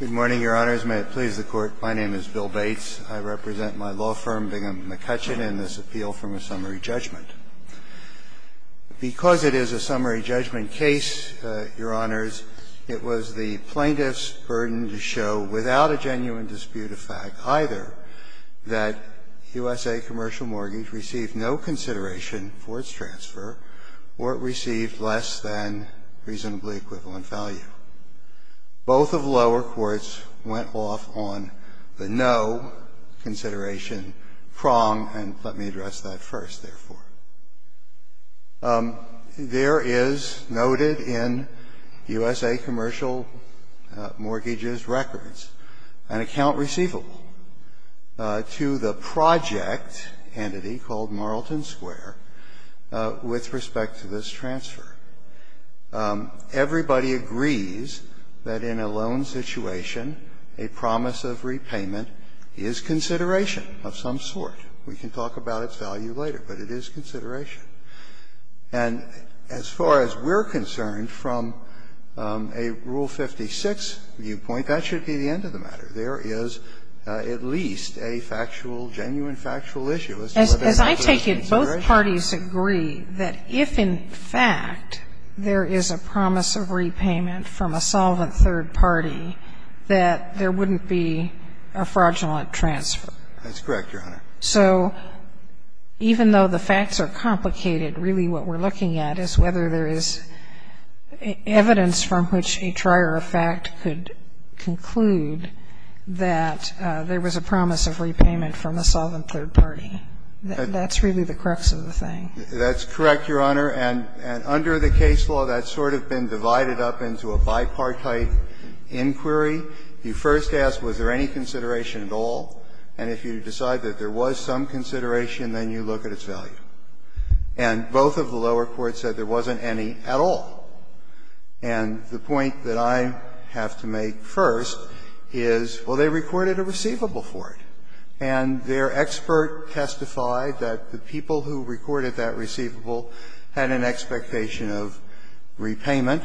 Good morning, Your Honors. May it please the Court, my name is Bill Bates. I represent my law firm, Bingham McCutchen, in this appeal from a summary judgment. Because it is a summary judgment case, Your Honors, it was the plaintiff's burden to show, without a genuine dispute of fact either, that USA Commercial Mortgage received no consideration for its transfer, or it received less than reasonably equivalent value. Both of lower courts went off on the no consideration prong, and let me address that first, therefore. There is noted in USA Commercial Mortgage's records an account receivable to the project entity called Marlton Square with respect to this transfer. Everybody agrees that in a loan situation, a promise of repayment is consideration of some sort. We can talk about its value later, but it is consideration. And as far as we're concerned from a Rule 56 viewpoint, that should be the end of the matter. There is at least a factual, genuine factual issue as to whether there is consideration. Both parties agree that if, in fact, there is a promise of repayment from a solvent third party, that there wouldn't be a fraudulent transfer. That's correct, Your Honor. So even though the facts are complicated, really what we're looking at is whether there is evidence from which a trier of fact could conclude that there was a promise of repayment from a solvent third party. That's really the crux of the thing. That's correct, Your Honor. And under the case law, that's sort of been divided up into a bipartite inquiry. You first ask, was there any consideration at all? And if you decide that there was some consideration, then you look at its value. And both of the lower courts said there wasn't any at all. And the point that I have to make first is, well, they recorded a receivable for it. And their expert testified that the people who recorded that receivable had an expectation of repayment.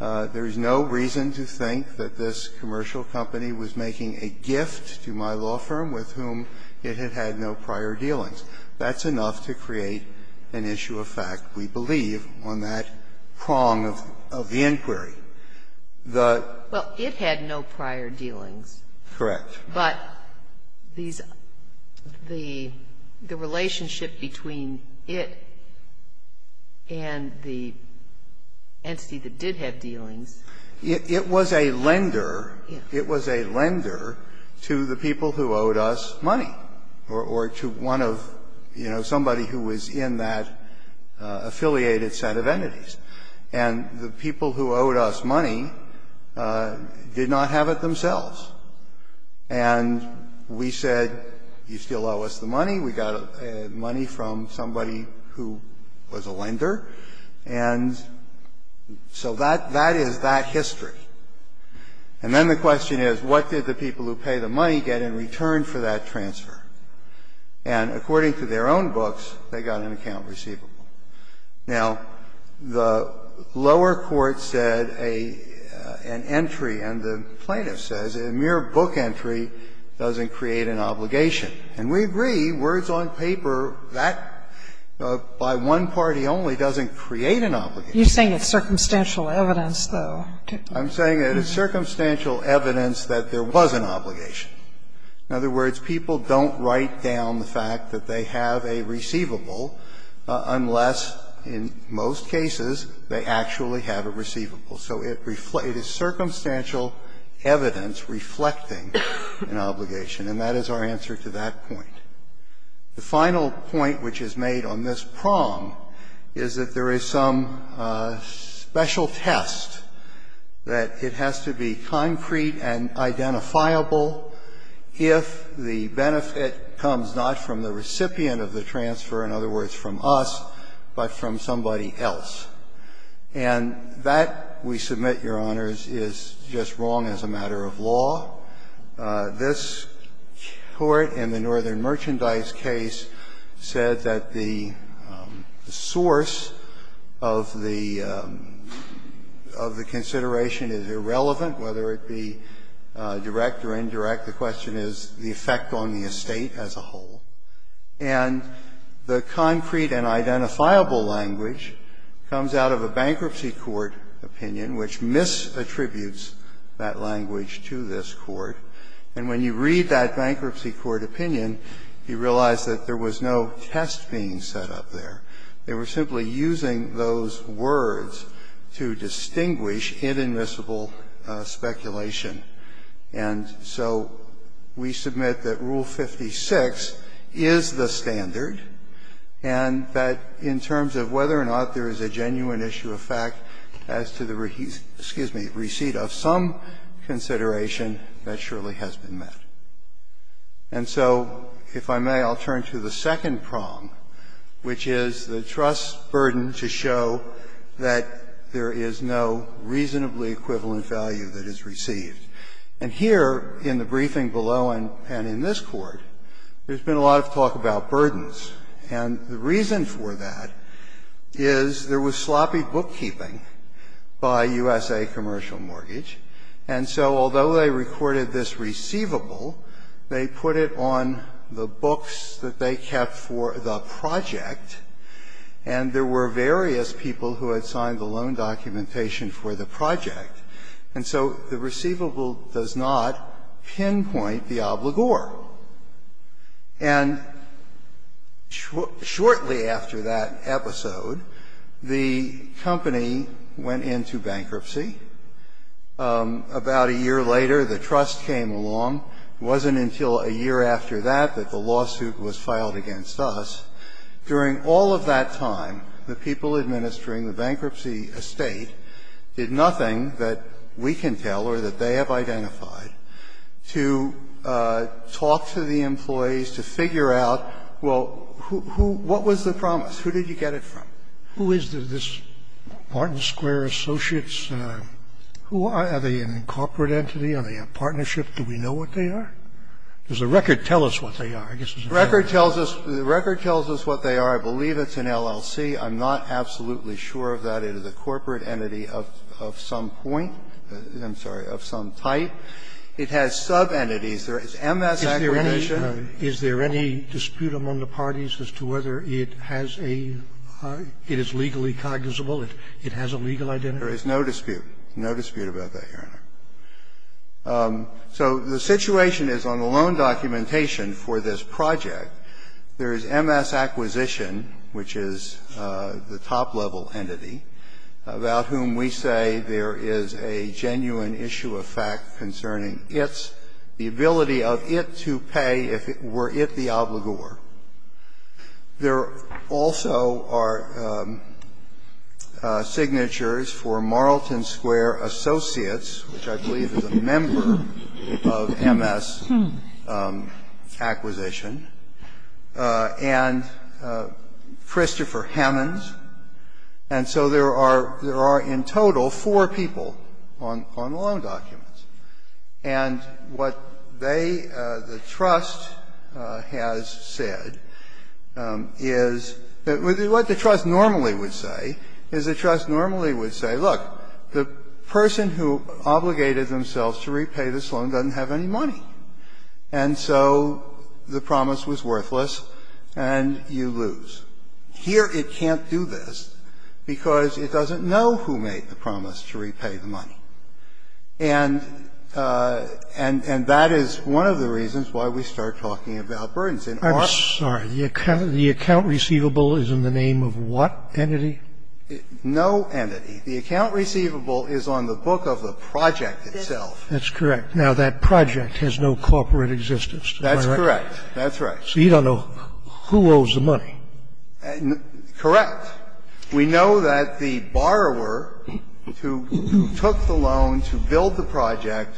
There is no reason to think that this commercial company was making a gift to my law firm with whom it had had no prior dealings. That's enough to create an issue of fact, we believe, on that prong of the inquiry. The ---- Well, it had no prior dealings. Correct. But these ---- the relationship between it and the entity that did have dealings ---- It was a lender. It was a lender to the people who owed us money or to one of, you know, somebody who was in that affiliated set of entities. And the people who owed us money did not have it themselves. And we said, you still owe us the money. We got money from somebody who was a lender. And so that is that history. And then the question is, what did the people who pay the money get in return for that transfer? And according to their own books, they got an account receivable. Now, the lower court said an entry, and the plaintiff says a mere book entry doesn't create an obligation. And we agree, words on paper, that by one party only doesn't create an obligation. You're saying it's circumstantial evidence, though. I'm saying it is circumstantial evidence that there was an obligation. In other words, people don't write down the fact that they have a receivable unless, in most cases, they actually have a receivable. So it is circumstantial evidence reflecting an obligation, and that is our answer to that point. The final point which is made on this prong is that there is some special test that it has to be concrete and identifiable if the benefit comes not from the recipient of the transfer, in other words, from us, but from somebody else. And that, we submit, Your Honors, is just wrong as a matter of law. This Court in the Northern Merchandise case said that the source of the consideration is irrelevant, whether it be direct or indirect. The question is the effect on the estate as a whole. And the concrete and identifiable language comes out of a bankruptcy court opinion which misattributes that language to this Court. And when you read that bankruptcy court opinion, you realize that there was no test being set up there. They were simply using those words to distinguish inadmissible speculation. And so we submit that Rule 56 is the standard, and that in terms of whether or not there is a genuine issue of fact as to the receipt of some consideration, that surely has been met. And so, if I may, I'll turn to the second prong, which is the trust burden to show that there is no reasonably equivalent value that is received. And here in the briefing below and in this Court, there's been a lot of talk about burdens. And the reason for that is there was sloppy bookkeeping by USA Commercial Mortgage. And so, although they recorded this receivable, they put it on the books that they kept for the project, and there were various people who had signed the loan documentation for the project. And so the receivable does not pinpoint the obligor. And shortly after that episode, the company went into bankruptcy. About a year later, the trust came along. It wasn't until a year after that that the lawsuit was filed against us. During all of that time, the people administering the bankruptcy estate did nothing that we can tell or that they have identified to talk to the employees, to figure out, well, who, what was the promise, who did you get it from? Scalia, who is this Martin Square Associates? Who are they, a corporate entity, are they a partnership? Do we know what they are? Does the record tell us what they are? I guess it's a fair question. The record tells us what they are. I believe it's an LLC. I'm not absolutely sure of that. It is a corporate entity of some point. I'm sorry, of some type. It has sub-entities. There is MS accredition. Is there any dispute among the parties as to whether it has a legally cognizable or it has a legal identity? There is no dispute, no dispute about that, Your Honor. So the situation is on the loan documentation for this project, there is MS acquisition, which is the top-level entity, about whom we say there is a genuine issue of fact concerning its, the ability of it to pay if it were it the obligor. There also are signatures for Marlton Square Associates, which is a company which I believe is a member of MS Acquisition, and Christopher Hammonds. And so there are, there are in total four people on the loan documents. And what they, the trust has said is, what the trust normally would say, is the trust would say, the person who obligated themselves to repay this loan doesn't have any money, and so the promise was worthless and you lose. Here it can't do this because it doesn't know who made the promise to repay the money. And, and that is one of the reasons why we start talking about burdens in our law. I'm sorry, the account receivable is in the name of what entity? No entity. The account receivable is on the book of the project itself. That's correct. Now, that project has no corporate existence. That's correct. That's right. So you don't know who owes the money. Correct. We know that the borrower who took the loan to build the project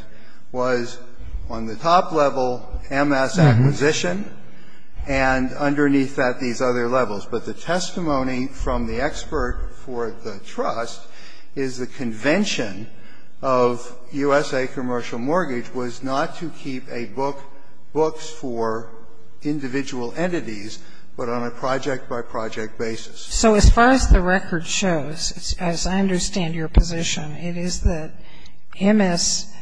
was on the top-level MS Acquisition and underneath that these other levels. But the testimony from the expert for the trust is the convention of USA Commercial Mortgage was not to keep a book, books for individual entities, but on a project-by-project basis. So as far as the record shows, as I understand your position, it is that MS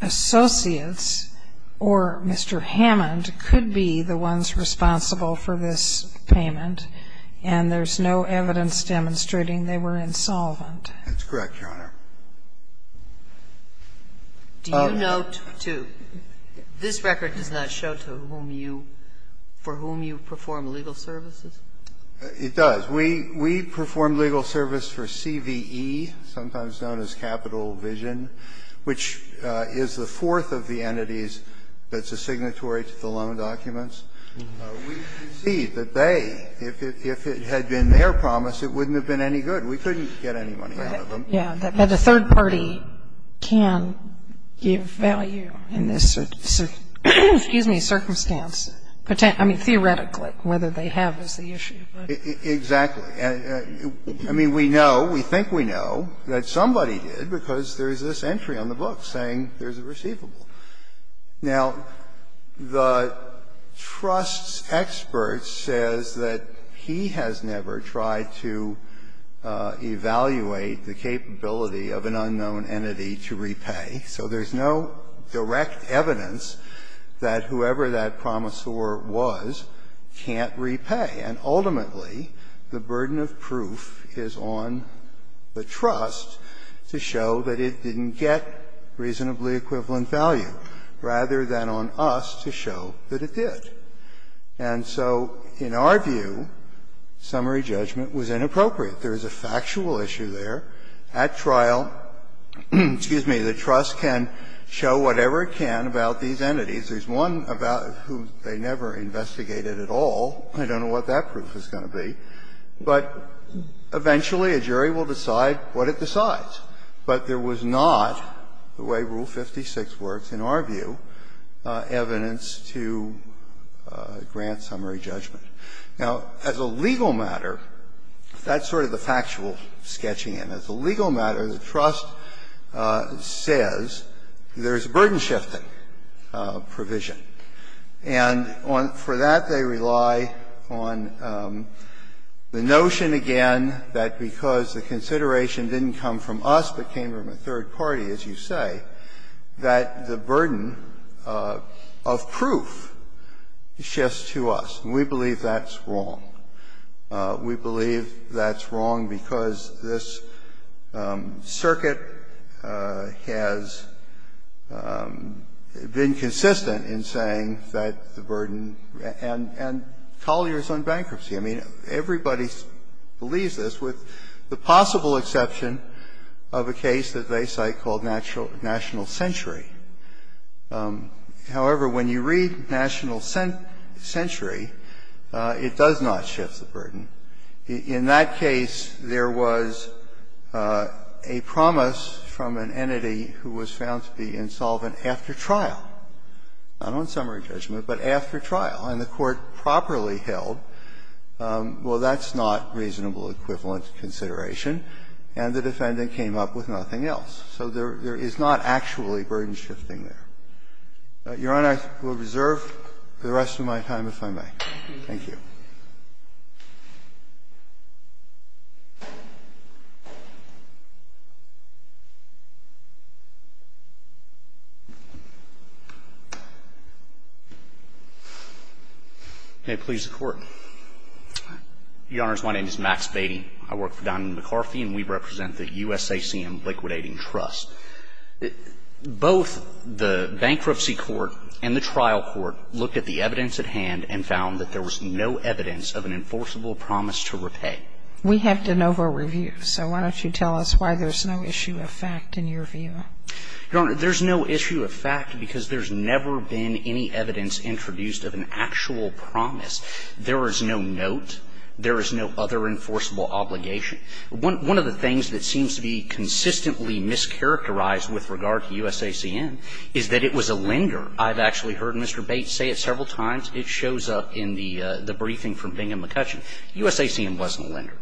Associates or Mr. Hammond could be the ones responsible for this payment, and there's no evidence demonstrating they were insolvent. That's correct, Your Honor. Do you note to this record does not show to whom you, for whom you perform legal services? It does. We, we perform legal service for CVE, sometimes known as Capital Vision, which is the third-party entity that's a signatory to the loan documents. We concede that they, if it had been their promise, it wouldn't have been any good. We couldn't get any money out of them. Yeah. But a third party can give value in this, excuse me, circumstance, I mean, theoretically, whether they have is the issue. Exactly. I mean, we know, we think we know that somebody did because there's this entry on the book saying there's a receivable. Now, the trust's expert says that he has never tried to evaluate the capability of an unknown entity to repay, so there's no direct evidence that whoever that promisor was can't repay. And ultimately, the burden of proof is on the trust to show that it didn't get reasonably equivalent value, rather than on us to show that it did. And so in our view, summary judgment was inappropriate. There is a factual issue there. At trial, excuse me, the trust can show whatever it can about these entities. There's one about who they never investigated at all. I don't know what that proof is going to be. But eventually a jury will decide what it decides. But there was not, the way Rule 56 works, in our view, evidence to grant summary judgment. Now, as a legal matter, that's sort of the factual sketching. And as a legal matter, the trust says there's a burden-shifting provision. And for that, they rely on the notion, again, that because the consideration didn't come from us but came from a third party, as you say, that the burden of proof shifts to us. And we believe that's wrong. We believe that's wrong because this circuit has been consistent in saying that the burden, and Collier's on bankruptcy. I mean, everybody believes this, with the possible exception of a case that they cite called National Century. However, when you read National Century, it does not shift the burden. In that case, there was a promise from an entity who was found to be insolvent after trial, not on summary judgment, but after trial. And the Court properly held, well, that's not reasonable equivalent consideration, and the defendant came up with nothing else. So there is not actually burden-shifting there. Your Honor, I will reserve the rest of my time, if I may. Thank you. May it please the Court. Your Honors, my name is Max Beatty. I work for Don McCarthy, and we represent the USACM Liquidating Trust. Both the bankruptcy court and the trial court looked at the evidence at hand and found that there was no evidence of an enforceable promise to repay. We have de novo review, so why don't you tell us why there's no issue of fact in your view? Your Honor, there's no issue of fact because there's never been any evidence introduced of an actual promise. There is no note. There is no other enforceable obligation. One of the things that seems to be consistently mischaracterized with regard to USACM is that it was a lender. I've actually heard Mr. Bates say it several times. It shows up in the briefing from Bingham and McCutcheon. USACM wasn't a lender.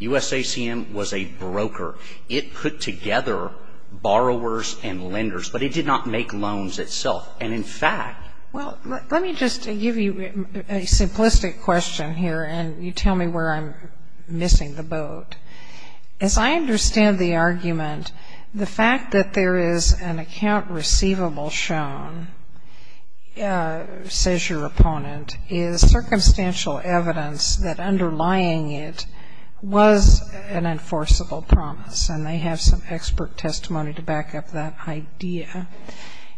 USACM was a broker. It put together borrowers and lenders, but it did not make loans itself. And in fact ---- Well, let me just give you a simplistic question here, and you tell me where I'm missing the boat. As I understand the argument, the fact that there is an account receivable shown, says your opponent, is circumstantial evidence that underlying it was an enforceable promise. And they have some expert testimony to back up that idea,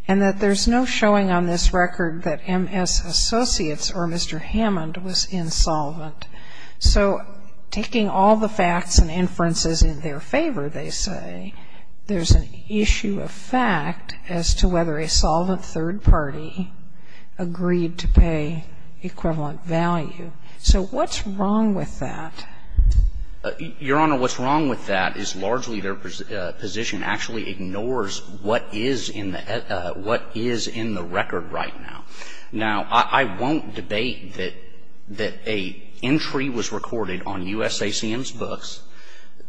and that there's no showing on this record that MS Associates or Mr. Hammond was insolvent. So taking all the facts and inferences in their favor, they say, there's an issue of whether a solvent third party agreed to pay equivalent value. So what's wrong with that? Your Honor, what's wrong with that is largely their position actually ignores what is in the record right now. Now I won't debate that an entry was recorded on USACM's books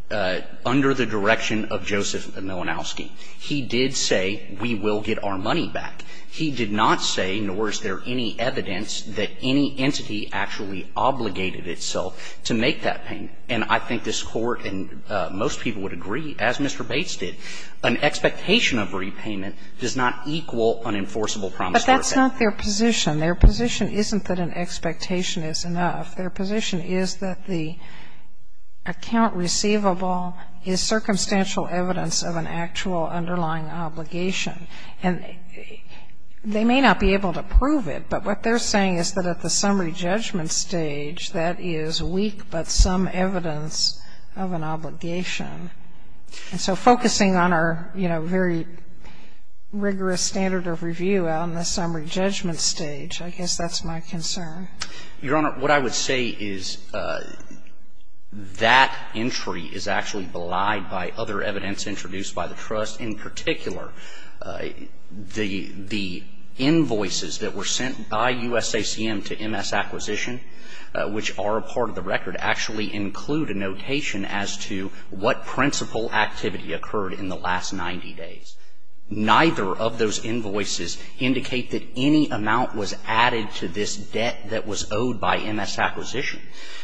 under the direction of Joseph Milanowski. He did say, we will get our money back. He did not say, nor is there any evidence, that any entity actually obligated itself to make that payment. And I think this Court and most people would agree, as Mr. Bates did, an expectation of repayment does not equal an enforceable promise to repay. But that's not their position. Their position isn't that an expectation is enough. Their position is that the account receivable is circumstantial evidence of an actual underlying obligation. And they may not be able to prove it, but what they're saying is that at the summary judgment stage, that is weak but some evidence of an obligation. And so focusing on our, you know, very rigorous standard of review on the summary judgment stage, I guess that's my concern. Your Honor, what I would say is that entry is actually belied by other evidence introduced by the trust. In particular, the invoices that were sent by USACM to MS Acquisition, which are a part of the record, actually include a notation as to what principal activity occurred in the last 90 days. Neither of those invoices indicate that any amount was added to this debt that was owed by MS Acquisition.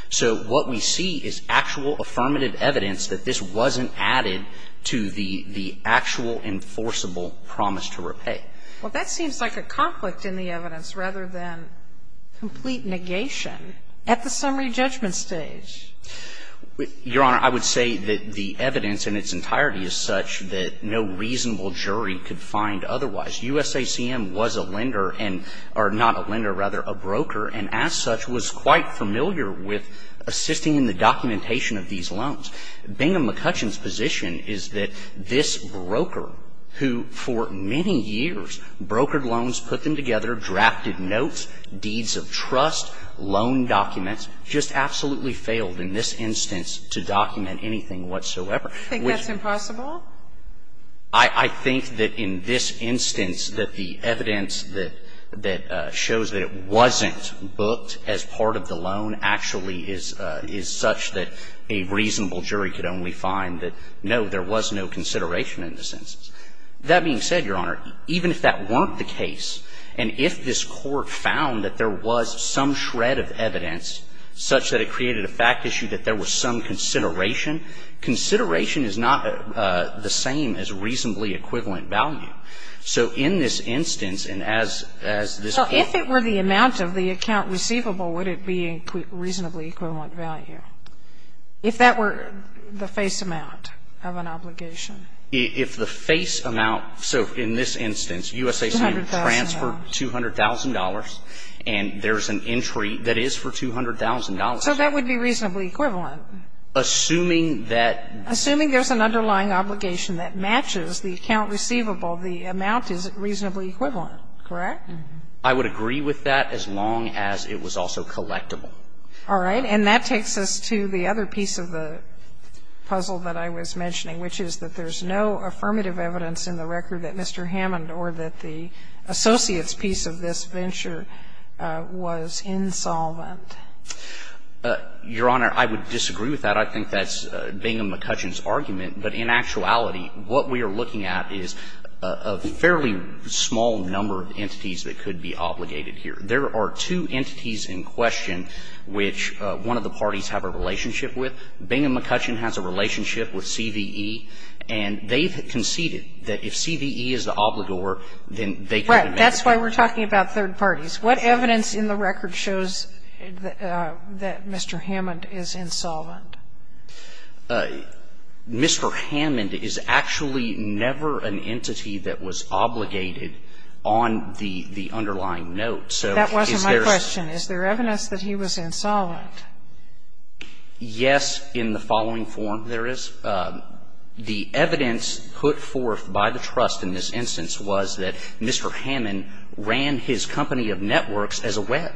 So what we see is actual affirmative evidence that this wasn't added to the actual enforceable promise to repay. Well, that seems like a conflict in the evidence rather than complete negation at the summary judgment stage. Your Honor, I would say that the evidence in its entirety is such that no reasonable jury could find otherwise. USACM was a lender and or not a lender, rather a broker, and as such was quite familiar with assisting in the documentation of these loans. Bingham McCutcheon's position is that this broker, who for many years brokered loans, put them together, drafted notes, deeds of trust, loan documents, just absolutely failed in this instance to document anything whatsoever. Do you think that's impossible? I think that in this instance that the evidence that shows that it wasn't booked as part of the loan actually is such that a reasonable jury could only find that, no, there was no consideration in this instance. That being said, Your Honor, even if that weren't the case, and if this Court found that there was some shred of evidence such that it created a fact issue that there was some consideration, consideration is not the same as reasonably equivalent value. So in this instance, and as this Court ---- Well, if it were the amount of the account receivable, would it be reasonably equivalent value? If that were the face amount of an obligation. If the face amount, so in this instance, USACM transferred $200,000, and there's an entry that is for $200,000. So that would be reasonably equivalent. Assuming that ---- Assuming there's an underlying obligation that matches the account receivable, the amount is reasonably equivalent, correct? I would agree with that as long as it was also collectible. All right. And that takes us to the other piece of the puzzle that I was mentioning, which is that there's no affirmative evidence in the record that Mr. Hammond or that the associates piece of this venture was insolvent. Your Honor, I would disagree with that. I think that's Bingham-McCutcheon's argument. But in actuality, what we are looking at is a fairly small number of entities that could be obligated here. There are two entities in question which one of the parties have a relationship with. Bingham-McCutcheon has a relationship with CVE, and they've conceded that if CVE is the obligor, then they could ---- That's why we're talking about third parties. What evidence in the record shows that Mr. Hammond is insolvent? Mr. Hammond is actually never an entity that was obligated on the underlying note. That wasn't my question. Is there evidence that he was insolvent? Yes, in the following form there is. The evidence put forth by the trust in this instance was that Mr. Hammond ran his company of networks as a web.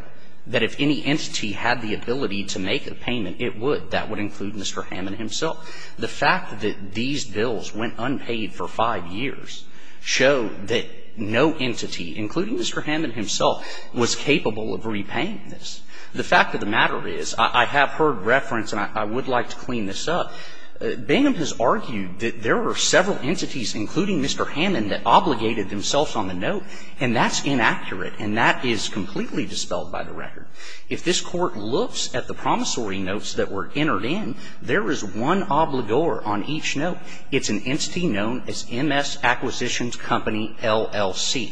That if any entity had the ability to make a payment, it would. That would include Mr. Hammond himself. The fact that these bills went unpaid for five years showed that no entity, including Mr. Hammond himself, was capable of repaying this. The fact of the matter is, I have heard reference, and I would like to clean this up, Bingham has argued that there are several entities, including Mr. Hammond, that obligated themselves on the note, and that's inaccurate, and that is completely dispelled by the record. If this Court looks at the promissory notes that were entered in, there is one obligor on each note. It's an entity known as MS Acquisitions Company LLC.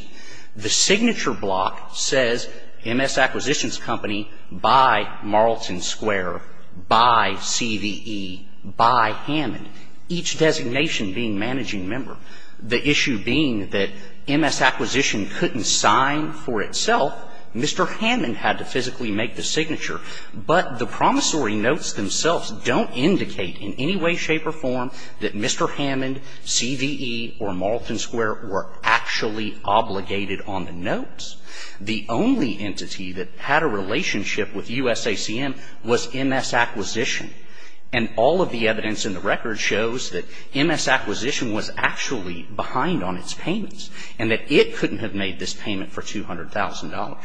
The signature block says MS Acquisitions Company by Marlton Square, by CVE, by Hammond, each designation being managing member. The issue being that MS Acquisition couldn't sign for itself. Mr. Hammond had to physically make the signature, but the promissory notes themselves don't indicate in any way, shape, or form that Mr. Hammond, CVE, or Marlton Square were actually obligated on the notes. The only entity that had a relationship with USACM was MS Acquisition, and all of the evidence in the record shows that MS Acquisition was actually behind on its payments, and that it couldn't have made this payment for $200,000.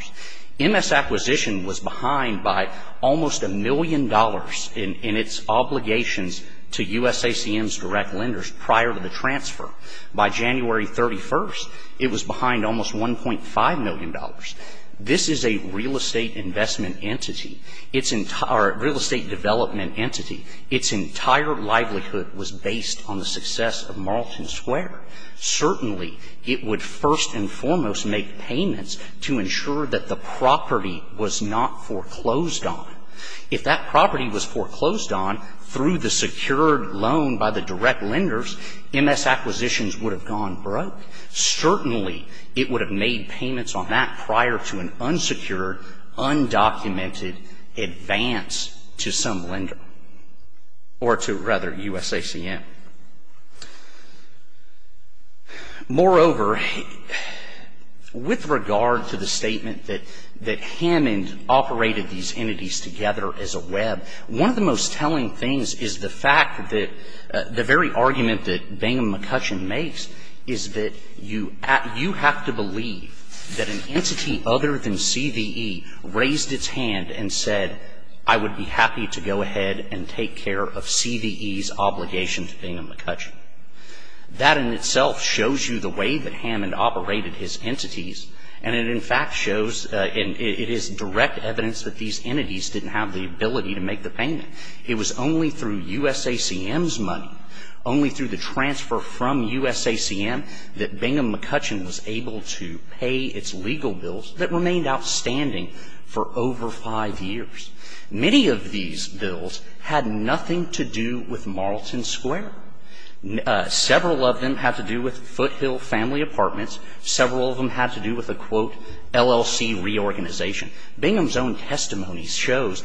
MS Acquisition was behind by almost a million dollars in its obligations to USACM's direct lenders prior to the transfer. By January 31st, it was behind almost $1.5 million. This is a real estate investment entity. It's a real estate development entity. Its entire livelihood was based on the success of Marlton Square. Certainly, it would first and foremost make payments to ensure that the property was not foreclosed on. If that property was foreclosed on through the secured loan by the direct lenders, MS Acquisitions would have gone broke. Certainly, it would have made payments on that prior to an unsecured, undocumented advance to some lender, or to, rather, USACM. Moreover, with regard to the statement that Hammond operated these entities together as a web, one of the most telling things is the fact that the very fact that you have to believe that an entity other than CVE raised its hand and said, I would be happy to go ahead and take care of CVE's obligation to Bingham & McCutcheon. That in itself shows you the way that Hammond operated his entities, and it, in fact, shows, it is direct evidence that these entities didn't have the ability to make the payment. It was only through USACM's money, only through the transfer from USACM that Bingham & McCutcheon was able to pay its legal bills that remained outstanding for over five years. Many of these bills had nothing to do with Marlton Square. Several of them had to do with Foothill Family Apartments. Several of them had to do with a, quote, LLC reorganization. Bingham's own testimony shows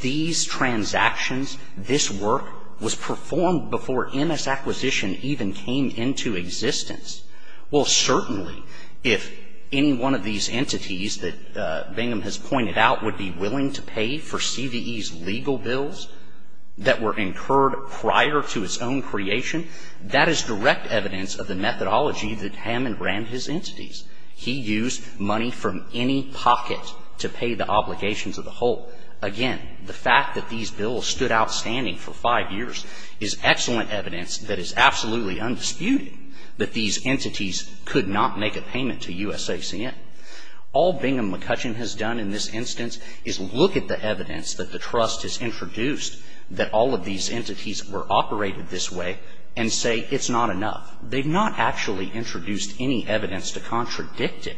these transactions, this work was performed before MS Acquisition even came into existence. Well, certainly, if any one of these entities that Bingham has pointed out would be willing to pay for CVE's legal bills that were incurred prior to its own creation, that is direct evidence of the methodology that Hammond ran his entities. He used money from any pocket to pay the obligations of the whole. Again, the fact that these bills stood outstanding for five years is excellent evidence that is absolutely undisputed that these entities could not make a payment to USACM. All Bingham & McCutcheon has done in this instance is look at the evidence that the trust has introduced that all of these entities were operated this way and say it's not enough. They've not actually introduced any evidence to contradict it.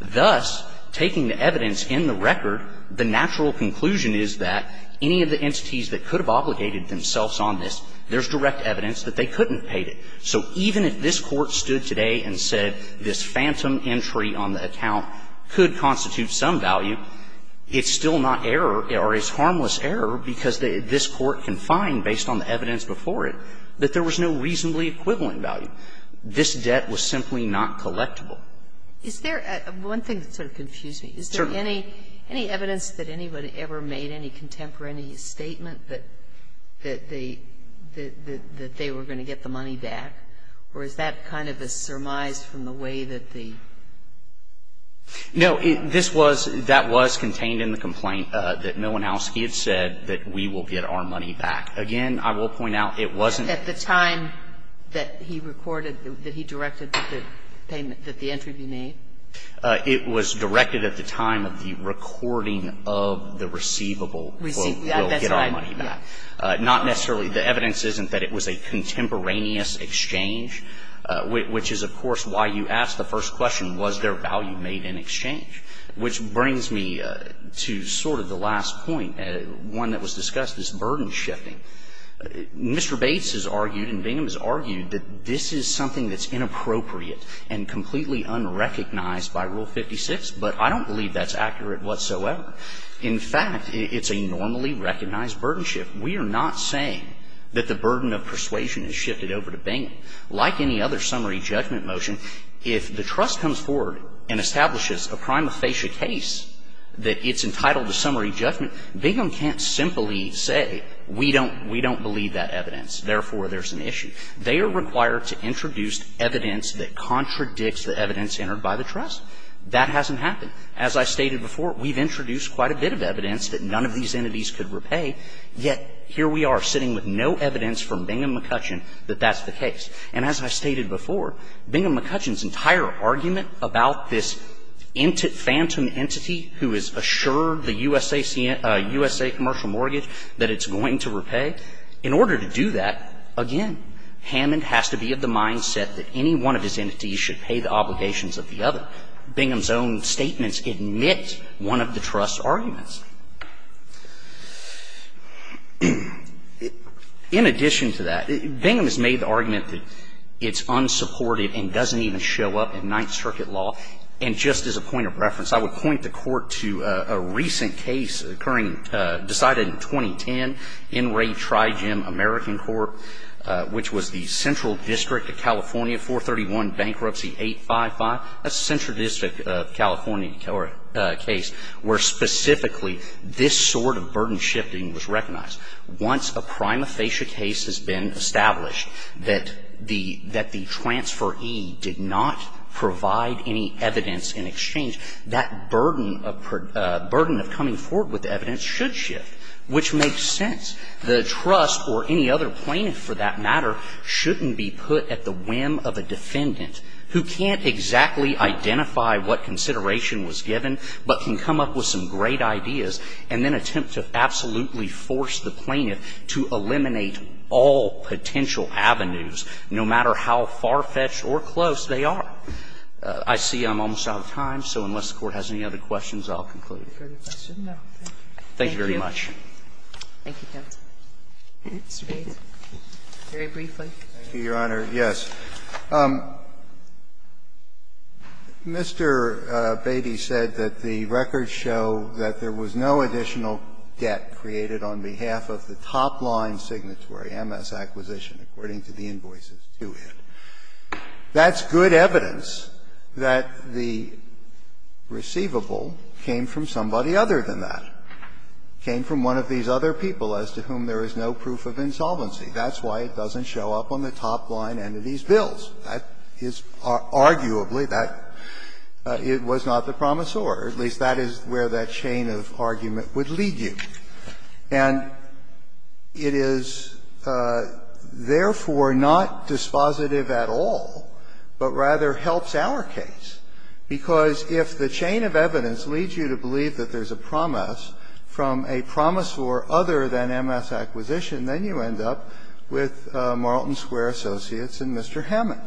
Thus, taking the evidence in the record, the natural conclusion is that any of the entities that could have obligated themselves on this, there's direct evidence that they couldn't have paid it. So even if this Court stood today and said this phantom entry on the account could constitute some value, it's still not error or is harmless error because this Court can find, based on the evidence before it, that there was no reasonably equivalent value. This debt was simply not collectible. Is there one thing that sort of confused me? Certainly. Is there any evidence that anybody ever made any contemporary statement that they were going to get the money back? Or is that kind of a surmise from the way that the? No. This was, that was contained in the complaint that Milinowski had said that we will get our money back. Again, I will point out it wasn't. At the time that he recorded, that he directed that the payment, that the entry be made? It was directed at the time of the recording of the receivable. Receivable, that's right. We'll get our money back. Not necessarily. The evidence isn't that it was a contemporaneous exchange, which is, of course, why you asked the first question, was there value made in exchange? Which brings me to sort of the last point, one that was discussed, this burden shifting. Mr. Bates has argued and Bingham has argued that this is something that's inappropriate and completely unrecognized by Rule 56. But I don't believe that's accurate whatsoever. In fact, it's a normally recognized burden shift. We are not saying that the burden of persuasion is shifted over to Bingham. Like any other summary judgment motion, if the trust comes forward and establishes a prima facie case that it's entitled to summary judgment, Bingham can't simply say, we don't believe that evidence, therefore, there's an issue. They are required to introduce evidence that contradicts the evidence entered by the trust. That hasn't happened. As I stated before, we've introduced quite a bit of evidence that none of these entities could repay, yet here we are, sitting with no evidence from Bingham McCutcheon that that's the case. And as I stated before, Bingham McCutcheon's entire argument about this phantom entity who has assured the USA commercial mortgage that it's going to repay, in order to do that, again, Hammond has to be of the mindset that any one of his entities should pay the obligations of the other. Bingham's own statements admit one of the trust's arguments. In addition to that, Bingham has made the argument that it's unsupported and doesn't even show up in Ninth Circuit law. And just as a point of reference, I would point the Court to a recent case occurring decided in 2010 in Ray Trigem American Court, which was the Central District of California, 431 Bankruptcy 855. That's the Central District of California case where specifically this sort of burden shifting was recognized. Once a prima facie case has been established that the transferee did not provide any evidence in exchange, that burden of coming forward with evidence should shift, which makes sense. The trust or any other plaintiff, for that matter, shouldn't be put at the whim of a defendant who can't exactly identify what consideration was given, but can come up with some great ideas and then attempt to absolutely force the plaintiff to eliminate all potential avenues, no matter how far-fetched or close they are. I see I'm almost out of time, so unless the Court has any other questions, I'll conclude. Thank you very much. Thank you, counsel. Mr. Bates. Very briefly. Thank you, Your Honor. Yes. Mr. Bates said that the records show that there was no additional debt created on behalf of the top-line signatory, MS Acquisition, according to the invoices to it. That's good evidence that the receivable came from somebody other than that. It came from one of these other people as to whom there is no proof of insolvency. That's why it doesn't show up on the top-line entities' bills. That is arguably that it was not the promisor. At least that is where that chain of argument would lead you. And it is, therefore, not dispositive at all, but rather helps our case, because if the chain of evidence leads you to believe that there is a promise from a promisor other than MS Acquisition, then you end up with Marlton Square Associates and Mr. Hammond.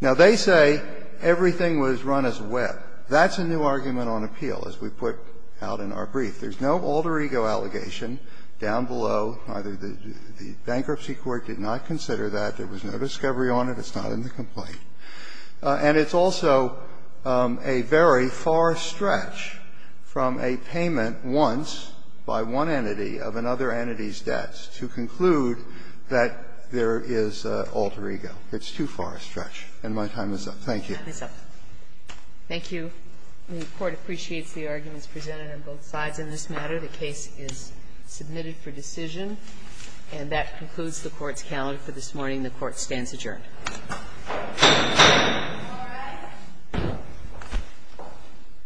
Now, they say everything was run as a web. That's a new argument on appeal, as we put out in our brief. There is no alter ego allegation down below. Neither the bankruptcy court did not consider that. There was no discovery on it. It's not in the complaint. And it's also a very far stretch from a payment once by one entity of another entity's debts to conclude that there is alter ego. It's too far a stretch. And my time is up. Thank you. Kagan. Thank you. The Court appreciates the arguments presented on both sides in this matter. The case is submitted for decision. And that concludes the Court's calendar for this morning. The Court stands adjourned.